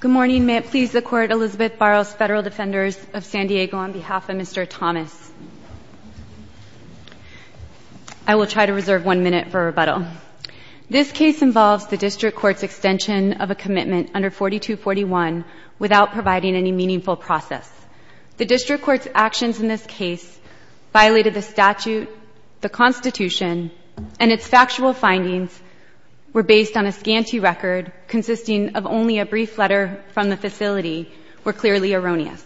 Good morning. May it please the Court, Elizabeth Barros, Federal Defenders of San Diego, on behalf of Mr. Thomas, I will try to reserve one minute for rebuttal. This case involves the District Court's extension of a commitment under 4241 without providing any meaningful process. The District Court's actions in this case violated the statute, the Constitution, and its factual findings were based on a scanty record consisting of only a brief letter from the facility were clearly erroneous.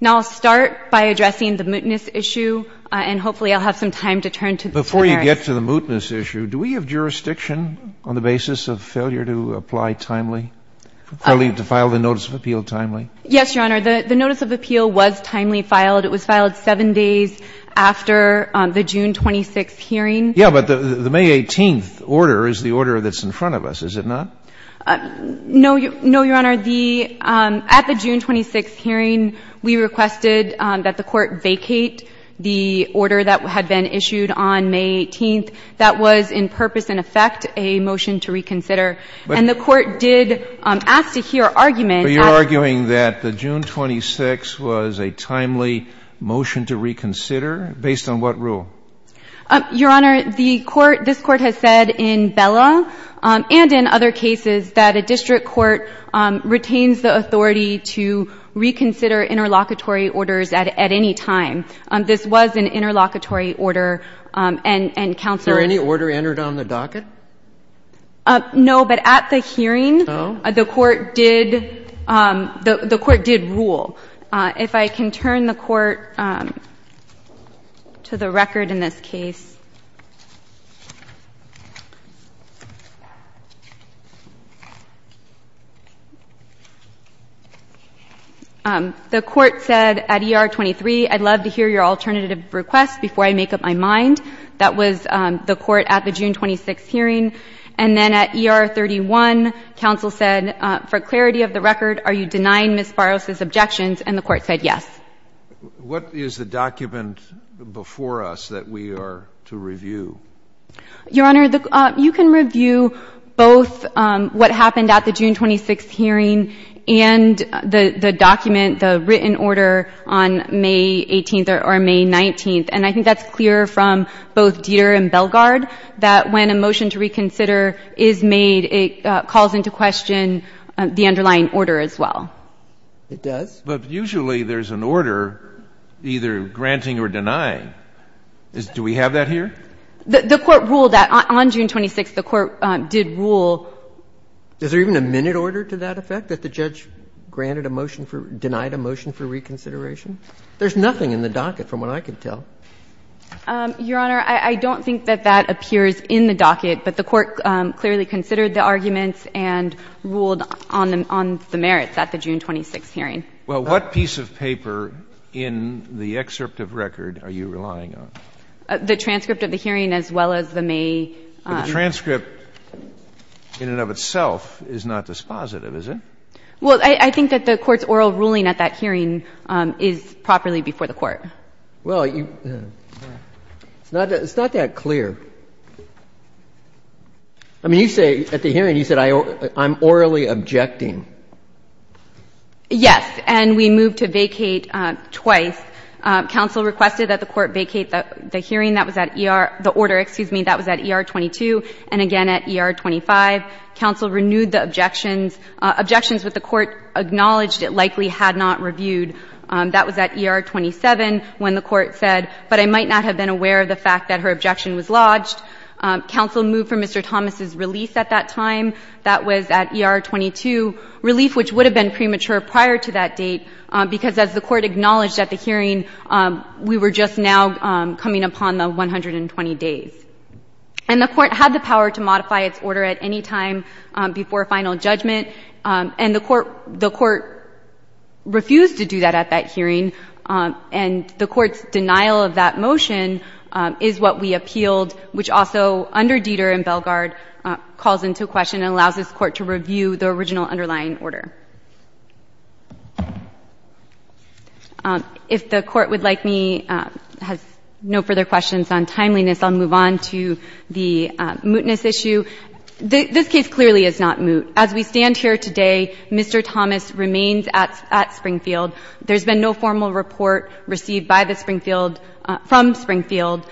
Now I'll start by addressing the mootness issue and hopefully I'll have some time to turn to the merits. Before you get to the mootness issue, do we have jurisdiction on the basis of failure to apply timely, failure to file the notice of appeal timely? Yes, Your Honor. The notice of appeal was timely filed. It was filed seven days after the June 26th hearing. Yes, but the May 18th order is the order that's in front of us, is it not? No, Your Honor. At the June 26th hearing, we requested that the Court vacate the order that had been issued on May 18th. That was in purpose and effect a motion to reconsider. And the Court did ask to hear argument at the June 26th hearing. Based on what rule? Your Honor, the Court, this Court has said in Bella and in other cases that a district court retains the authority to reconsider interlocutory orders at any time. This was an interlocutory order and Counselor Was there any order entered on the docket? No, but at the hearing, the Court did, the Court did rule. If I can turn the Court to the record in this case. The Court said at ER 23, I'd love to hear your alternative request before I make up my mind. That was the Court at the June 26th hearing. And then at ER 31, Counsel said, for clarity of the record, are you denying Ms. Farros' objections? And the Court said yes. What is the document before us that we are to review? Your Honor, you can review both what happened at the June 26th hearing and the document, the written order on May 18th or May 19th. And I think that's clear from both Dieter and Belgaard that when a motion to reconsider is made, it calls into question the underlying order as well. It does? Yes. But usually there's an order either granting or denying. Do we have that here? The Court ruled that on June 26th, the Court did rule Is there even a minute order to that effect, that the judge granted a motion for, denied a motion for reconsideration? There's nothing in the docket from what I can tell. Your Honor, I don't think that that appears in the docket, but the Court clearly Well, what piece of paper in the excerpt of record are you relying on? The transcript of the hearing as well as the May The transcript in and of itself is not dispositive, is it? Well, I think that the Court's oral ruling at that hearing is properly before the Court. Well, you – it's not that clear. I mean, you say at the hearing, you said I'm orally objecting. Yes. And we moved to vacate twice. Counsel requested that the Court vacate the hearing. That was at ER – the order. Excuse me. That was at ER 22 and again at ER 25. Counsel renewed the objections. Objections that the Court acknowledged it likely had not reviewed. That was at ER 27 when the Court said, but I might not have been aware of the fact that her objection was lodged. Counsel moved for Mr. Thomas's release at that time. That was at ER 22. Relief, which would have been premature prior to that date, because as the Court acknowledged at the hearing, we were just now coming upon the 120 days. And the Court had the power to modify its order at any time before final judgment. And the Court – the Court refused to do that at that hearing. And the Court's denial of that motion is what we appealed, which also under Deder and Bellegarde calls into question and allows this Court to review the original underlying order. If the Court would like me – has no further questions on timeliness, I'll move on to the mootness issue. This case clearly is not moot. As we stand here today, Mr. Thomas remains at – at Springfield. There's been no formal report received by the Springfield – from Springfield.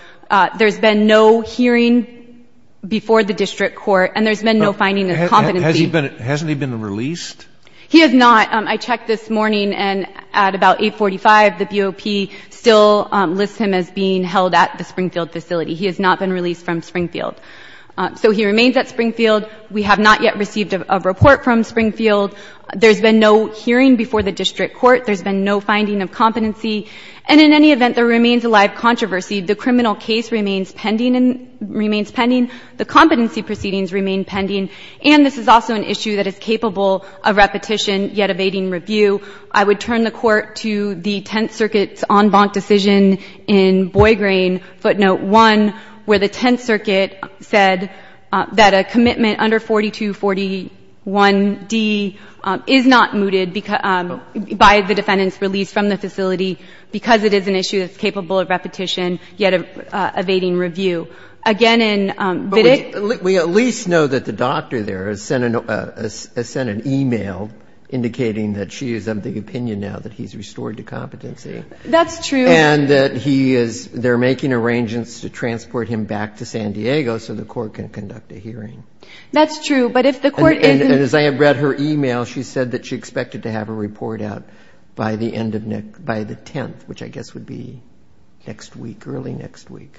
There's been no hearing before the district court, and there's been no finding of competency. Has he been – hasn't he been released? He has not. I checked this morning, and at about 845, the BOP still lists him as being held at the Springfield facility. He has not been released from Springfield. So he remains at Springfield. We have not yet received a report from Springfield. There's been no hearing before the district court. There's been no finding of competency. And in any event, there remains a live controversy. The criminal case remains pending and – remains pending. The competency proceedings remain pending. And this is also an issue that is capable of repetition, yet evading review. I would turn the Court to the Tenth Circuit's en banc decision in Boyd Green, footnote 1, where the Tenth Circuit said that a commitment under 4241D is not mooted by the facility because it is an issue that's capable of repetition, yet evading review. Again, in – But we – we at least know that the doctor there has sent an – has sent an email indicating that she is of the opinion now that he's restored to competency. That's true. And that he is – they're making arrangements to transport him back to San Diego so the court can conduct a hearing. That's true. But if the court is – And as I have read her email, she said that she expected to have her report out by the end of – by the 10th, which I guess would be next week, early next week.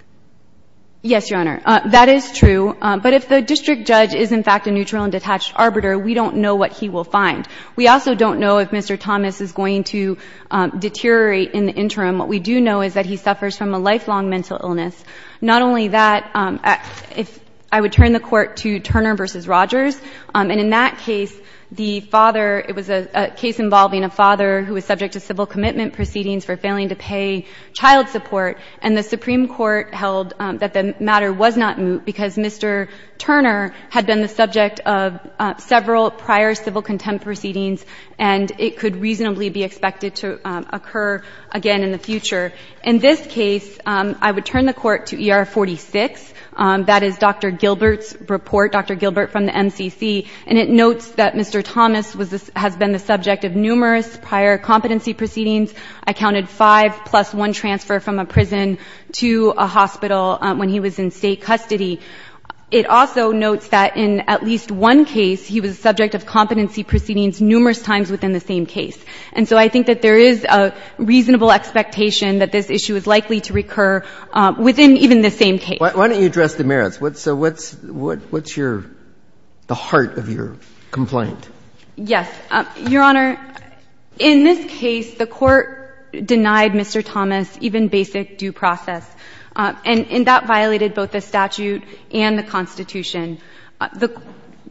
Yes, Your Honor. That is true. But if the district judge is, in fact, a neutral and detached arbiter, we don't know what he will find. We also don't know if Mr. Thomas is going to deteriorate in the interim. What we do know is that he suffers from a lifelong mental illness. Not only that, I would turn the court to Turner v. Rogers. And in that case, the father – it was a case involving a father who was subject to civil commitment proceedings for failing to pay child support. And the Supreme Court held that the matter was not moot because Mr. Turner had been the subject of several prior civil contempt proceedings and it could reasonably be expected to occur again in the future. In this case, I would turn the court to ER 46. That is Dr. Gilbert's report, Dr. Gilbert from the MCC. And it notes that Mr. Thomas was – has been the subject of numerous prior competency proceedings. I counted five plus one transfer from a prison to a hospital when he was in state custody. It also notes that in at least one case, he was subject of competency proceedings numerous times within the same case. And so I think that there is a reasonable expectation that this issue is likely to recur within even the same case. Why don't you address the merits? What's your – the heart of your complaint? Yes. Your Honor, in this case, the court denied Mr. Thomas even basic due process. And that violated both the statute and the Constitution.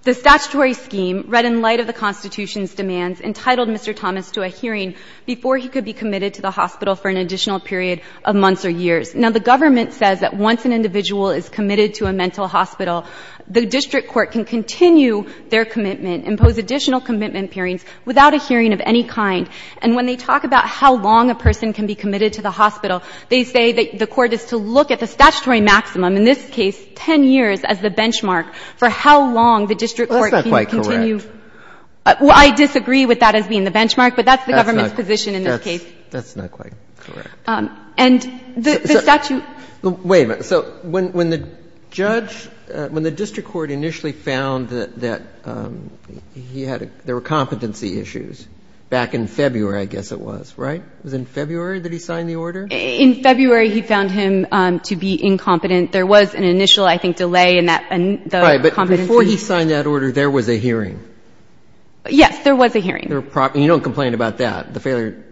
The statutory scheme, read in light of the Constitution's demands, entitled Mr. Thomas to a hearing before he could be committed to the hospital for an additional period of months or years. Now, the government says that once an individual is committed to a mental hospital, the district court can continue their commitment, impose additional commitment hearings without a hearing of any kind. And when they talk about how long a person can be committed to the hospital, they say that the court is to look at the statutory maximum, in this case, 10 years as the benchmark for how long the district court can continue. That's not quite correct. Well, I disagree with that as being the benchmark, but that's the government's position in this case. That's not quite correct. And the statute – Wait a minute. So when the judge – when the district court initially found that he had – there were competency issues back in February, I guess it was, right? It was in February that he signed the order? In February, he found him to be incompetent. There was an initial, I think, delay in that competency. But before he signed that order, there was a hearing? Yes, there was a hearing. You don't complain about that, the failure?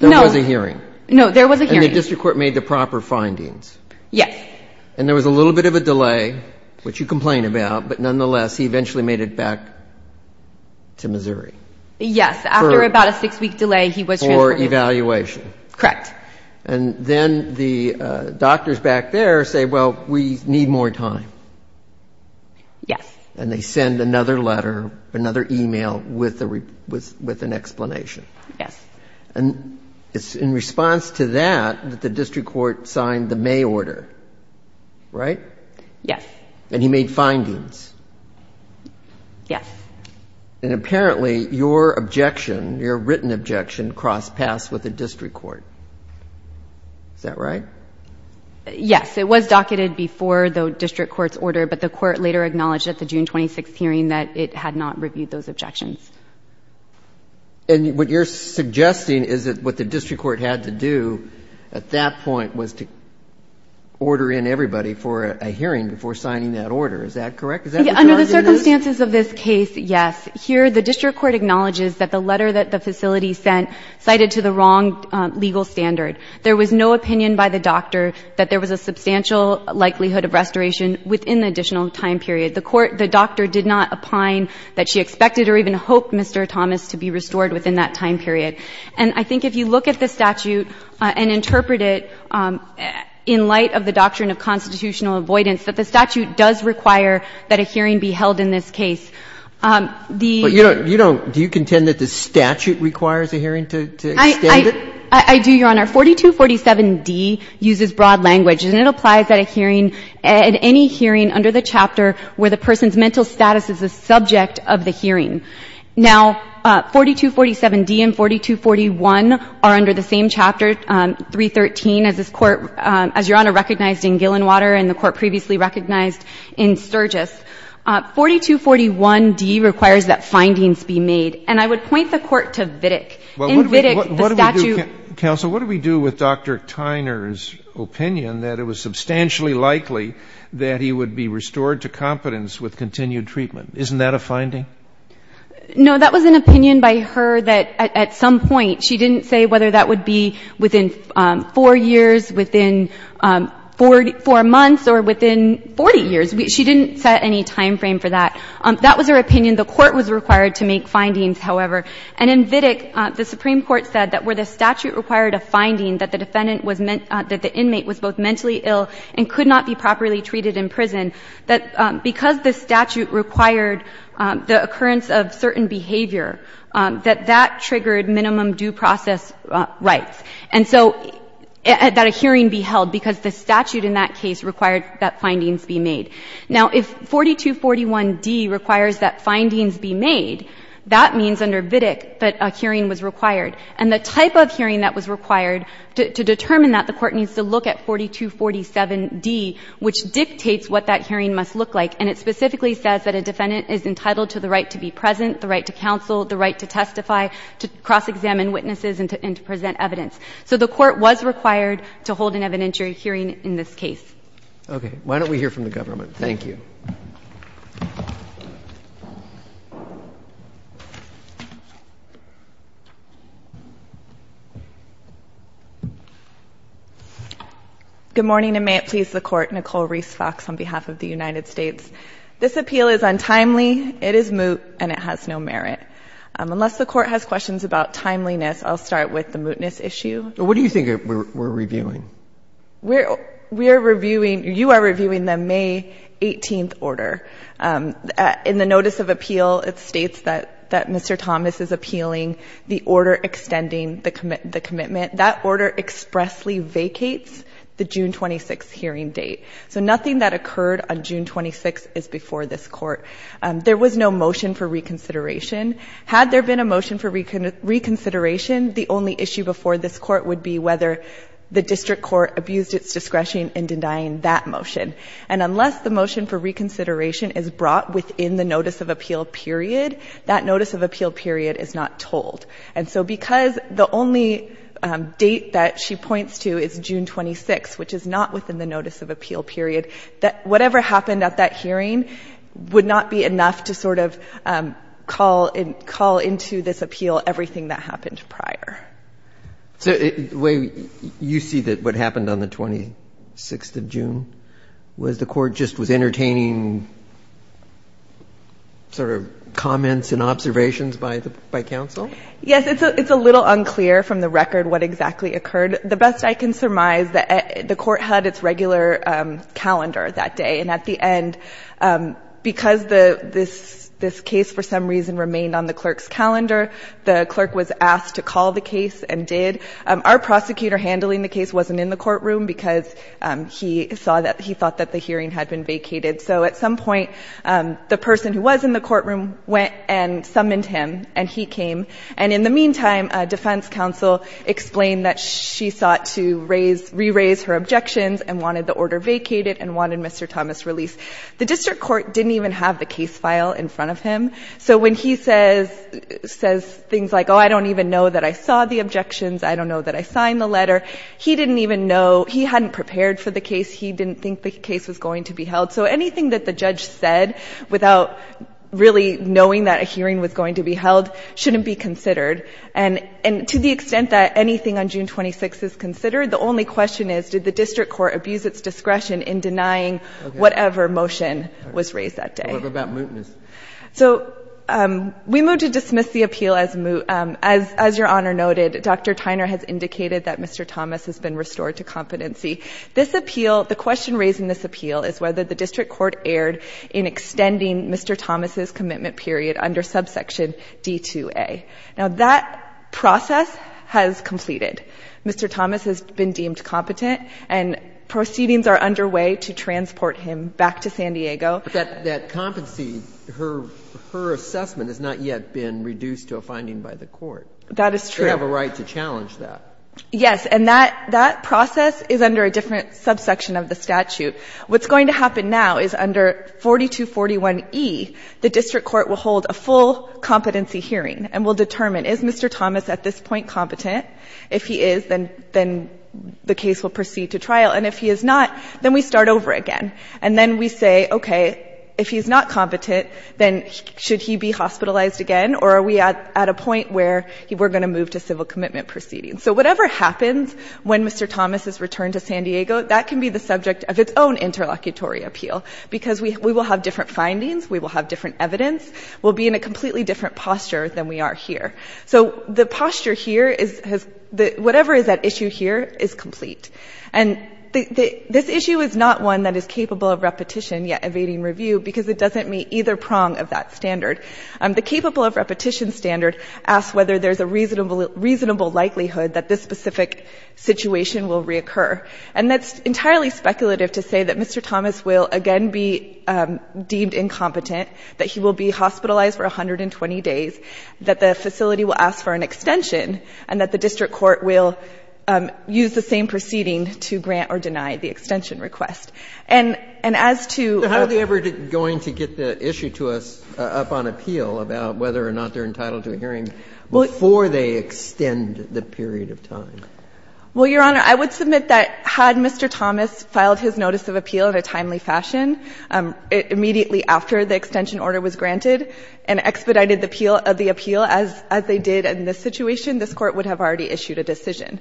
No. There was a hearing? No, there was a hearing. And the district court made the proper findings? Yes. And there was a little bit of a delay, which you complain about, but nonetheless, he eventually made it back to Missouri? Yes. After about a six-week delay, he was transferred to Missouri. For evaluation? Correct. And then the doctors back there say, well, we need more time? Yes. And they send another letter, another email, with an explanation? Yes. And it's in response to that that the district court signed the May order, right? Yes. And he made findings? Yes. And apparently, your objection, your written objection, crossed paths with the district court. Is that right? Yes. It was docketed before the district court's order, but the court later acknowledged at the June 26th hearing that it had not reviewed those objections. And what you're suggesting is that what the district court had to do at that point was to order in everybody for a hearing before signing that order. Is that correct? Is that what you're arguing is? Under the circumstances of this case, yes. Here, the district court acknowledges that the letter that the facility sent cited to the wrong legal standard. There was no opinion by the doctor that there was a substantial likelihood of restoration within the additional time period. The doctor did not opine that she expected or even hoped Mr. Thomas to be restored within that time period. And I think if you look at the statute and interpret it in light of the doctrine of constitutional avoidance, that the statute does require that a hearing be held in this case. Do you contend that the statute requires a hearing to extend it? I do, Your Honor. And our 4247D uses broad language and it applies at a hearing, at any hearing under the chapter where the person's mental status is the subject of the hearing. Now, 4247D and 4241 are under the same chapter, 313, as Your Honor recognized in Gillenwater and the court previously recognized in Sturgis. 4241D requires that findings be made. And I would point the court to Vidic. In Vidic, the statute... Counsel, what do we do with Dr. Tyner's opinion that it was substantially likely that he would be restored to competence with continued treatment? Isn't that a finding? No, that was an opinion by her that at some point, she didn't say whether that would be within 4 years, within 4 months, or within 40 years. She didn't set any time frame for that. That was her opinion. The court was required to make findings, however. And in Vidic, the Supreme Court said that where the statute required a finding that the defendant was... that the inmate was both mentally ill and could not be properly treated in prison, that because the statute required the occurrence of certain behavior, that that triggered minimum due process rights. And so, that a hearing be held because the statute in that case required that findings be made. Now, if 4241D requires that findings be made, that means under Vidic that a hearing was required. And the type of hearing that was required to determine that, the court needs to look at 4247D, which dictates what that hearing must look like. And it specifically says that a defendant is entitled to the right to be present, the right to counsel, the right to testify, to cross-examine witnesses, and to present evidence. So the court was required to hold an evidentiary hearing in this case. Okay. Why don't we hear from the government? Thank you. Good morning, and may it please the court. Nicole Reese Fox on behalf of the United States. This appeal is untimely, it is moot, and it has no merit. Unless the court has questions about timeliness, I'll start with the mootness issue. What do you think we're reviewing? We are reviewing... You are reviewing the May 18th order. In the notice of appeal, it states that the defendant that Mr Thomas is appealing, the order extending the commitment, that order expressly vacates the June 26th hearing date. So nothing that occurred on June 26th is before this court. There was no motion for reconsideration. Had there been a motion for reconsideration, the only issue before this court would be whether the district court abused its discretion in denying that motion. And unless the motion for reconsideration is brought within the notice of appeal period, that notice of appeal period is not told. And so because the only date that she points to is June 26, which is not within the notice of appeal period, whatever happened at that hearing would not be enough to sort of call into this appeal everything that happened prior. So you see that what happened on the 26th of June was the court just was entertaining sort of comments and observations by counsel? Yes, it's a little unclear from the record what exactly occurred. The best I can surmise, the court had its regular calendar that day, and at the end, because this case for some reason remained on the clerk's calendar, the clerk was asked to call the case and did. Our prosecutor handling the case wasn't in the courtroom because he thought that the hearing had been vacated. So at some point, the person who was in the courtroom went and summoned him, and he came. And in the meantime, defense counsel explained that she sought to re-raise her objections and wanted the order vacated and wanted Mr. Thomas released. The district court didn't even have the case file in front of him, so when he says things like, oh, I don't even know that I saw the objections, I don't know that I signed the letter, he didn't even know, he hadn't prepared for the case, he didn't think the case was going to be held. So anything that the judge said without really knowing that a hearing was going to be held shouldn't be considered. And to the extent that anything on June 26 is considered, the only question is, did the district court abuse its discretion in denying whatever motion was raised that day? What about mootness? So we move to dismiss the appeal as moot. As Your Honor noted, Dr. Tyner has indicated that Mr. Thomas has been restored to competency. This appeal, the question raised in this appeal is whether the district court erred in extending Mr. Thomas's commitment period under subsection D-2A. Now that process has completed. Mr. Thomas has been deemed competent and proceedings are underway to transport him back to San Diego. But that competency, her assessment has not yet been reduced to a finding by the court. That is true. You have a right to challenge that. Yes, and that process is under a different subsection of the statute. What's going to happen now is under 4241E, the district court will hold a full competency hearing and will determine, is Mr. Thomas at this point competent? If he is, then the case will proceed to trial. And if he is not, then we start over again. And then we say, okay, if he's not competent, then should he be hospitalized again? Or are we at a point where we're going to move to civil commitment proceedings? So whatever happens when Mr. Thomas is returned to San Diego, that can be the subject of its own interlocutory appeal. Because we will have different findings, we will have different evidence, we'll be in a completely different posture than we are here. So the posture here is, whatever is at issue here is complete. And this issue is not one that is capable of repetition yet evading review because it doesn't meet either prong of that standard. The capable of repetition standard asks whether there's a reasonable likelihood that this specific situation will reoccur. And that's entirely speculative to say that Mr. Thomas will again be deemed incompetent, that he will be hospitalized for 120 days, that the facility will ask for an extension, and that the district court will use the same proceeding to grant or deny the extension request. And as to the... appeal about whether or not they're entitled to a hearing before they extend the period of time. Well, Your Honor, I would submit that had Mr. Thomas filed his notice of appeal in a timely fashion, immediately after the extension order was granted, and expedited the appeal as they did in this situation, this Court would have already issued a decision.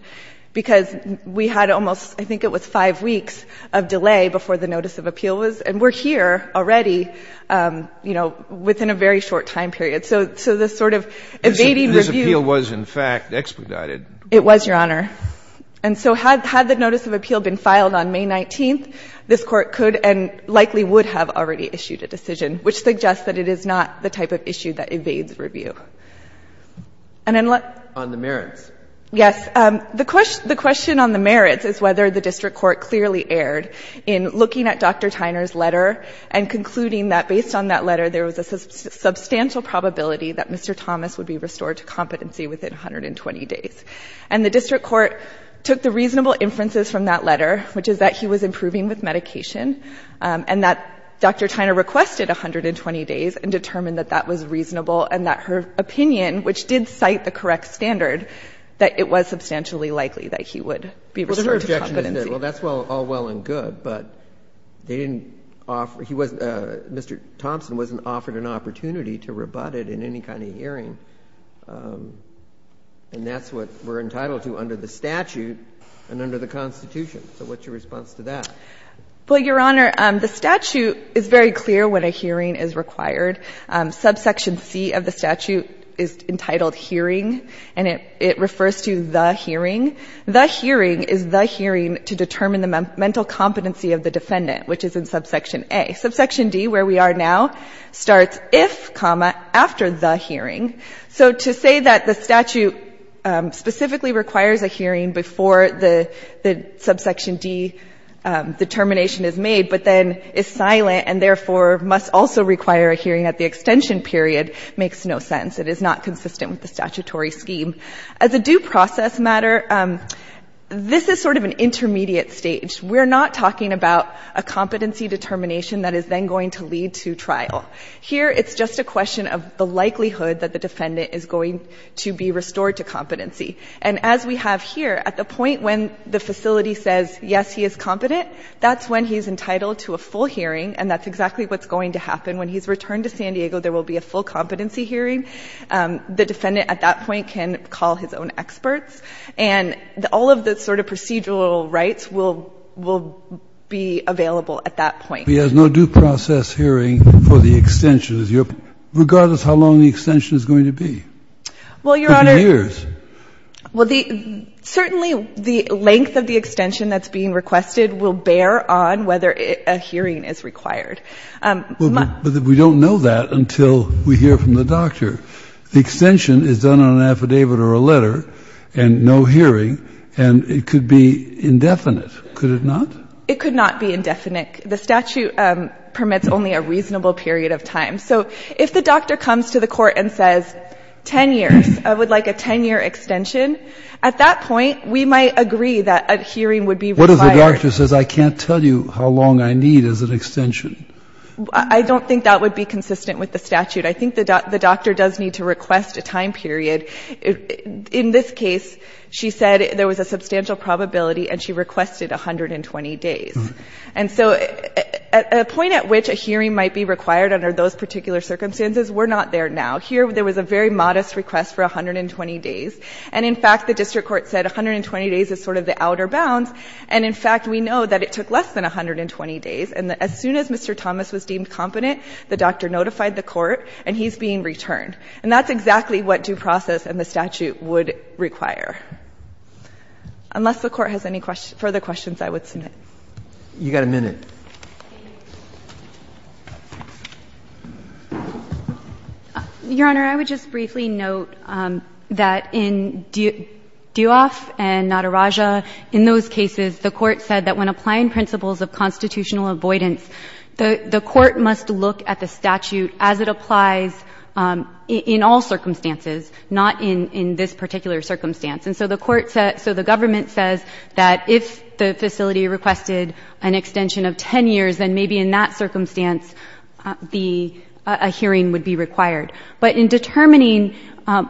Because we had almost, I think it was five weeks of delay before the notice of appeal was, and we're here already, you know, within a very short time period. So this sort of evading review... This appeal was, in fact, expedited. It was, Your Honor. And so had the notice of appeal been filed on May 19th, this Court could and likely would have already issued a decision, which suggests that it is not the type of issue that evades review. And unless... On the merits. Yes. The question on the merits is whether the district court clearly erred in looking at Dr. Tyner's letter and concluding that based on that letter there was a substantial probability that Mr. Thomas would be restored to competency within 120 days. And the district court took the reasonable inferences from that letter, which is that he was improving with medication, and that Dr. Tyner requested 120 days and determined that that was reasonable and that her opinion, which did cite the correct standard, that it was substantially likely that he would be restored to competency. Well, that's all well and good, but they didn't offer... He wasn't... Mr. Thompson wasn't offered an opportunity to rebut it in any kind of hearing, and that's what we're entitled to under the statute and under the Constitution. So what's your response to that? Well, Your Honor, the statute is very clear when a hearing is required. Subsection C of the statute is entitled hearing, and it refers to the hearing. The hearing is the hearing to determine the mental competency of the defendant, which is in Subsection A. Subsection D, where we are now, starts if, comma, after the hearing. So to say that the statute specifically requires a hearing before the Subsection D determination is made, but then is silent and therefore must also require a hearing at the extension period, makes no sense. It is not consistent with the statutory scheme. As a due process matter, this is sort of an intermediate stage. We're not talking about a competency determination that is then going to lead to trial. Here, it's just a question of the likelihood that the defendant is going to be restored to competency. And as we have here, at the point when the facility says, yes, he is competent, that's when he's entitled to a full hearing, and that's exactly what's going to happen. When he's returned to San Diego, there will be a full competency hearing. The defendant, at that point, can call his own experts, and all of the sort of procedural rights will be available at that point. He has no due process hearing for the extension. Regardless of how long the extension is going to be. Well, Your Honor... For 10 years. Well, certainly, the length of the extension that's being requested will bear on whether a hearing is required. But we don't know that until we hear from the doctor. The extension is done on an affidavit or a letter, and no hearing, and it could be indefinite. Could it not? It could not be indefinite. The statute permits only a reasonable period of time. So if the doctor comes to the court and says, 10 years, I would like a 10-year extension, at that point, we might agree that a hearing would be required. What if the doctor says, I can't tell you how long I need as an extension? I don't think that would be consistent with the statute. I think the doctor does need to request a time period. In this case, she said there was a substantial probability and she requested 120 days. And so, a point at which a hearing might be required under those particular circumstances we're not there now. Here, there was a very modest request for 120 days. And in fact, the district court said 120 days is sort of the outer bounds. And in fact, we know that it took less than 120 days. And as soon as Mr. Thomas was deemed competent, the doctor notified the court, and he's being returned. And that's exactly what due process and the statute would require. Unless the court has any further questions, I would submit. You've got a minute. Your Honor, I would just briefly note that in Duoff and Nadarajah, in those cases, the court said that when applying principles of constitutional avoidance, the court must look at the statute as it applies in all circumstances, not in this particular circumstance. And so the court said, so the government says that if the facility requested an extension of 10 years, then maybe in that circumstance a hearing would be required. But in determining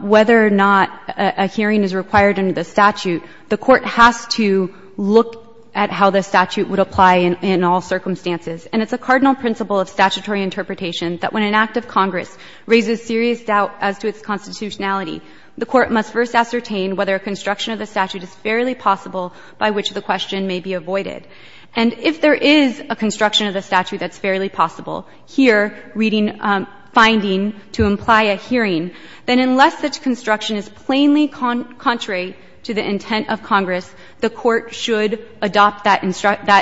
whether or not a hearing is required under the statute, the court has to look at how the statute would apply in all circumstances. And it's a cardinal principle of statutory interpretation that when an act of Congress raises serious doubt as to its constitutionality, the court must first ascertain whether a construction of the statute is fairly possible by which the question may be avoided. And if there is a construction of the statute that's fairly possible, here, reading finding to imply a hearing, then unless such construction is plainly contrary to the intent of Congress, the court should adopt that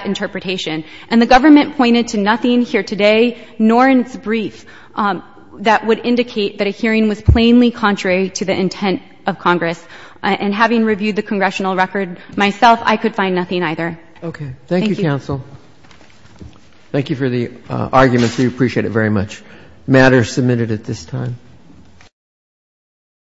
interpretation. And the government pointed to nothing here today nor in its brief that would indicate that a hearing was plainly contrary to the intent of Congress. And having reviewed the statute government has not argued that a hearing was plainly contrary to the intent of Congress. And the government has not argued that a intent of Congress. Thank you.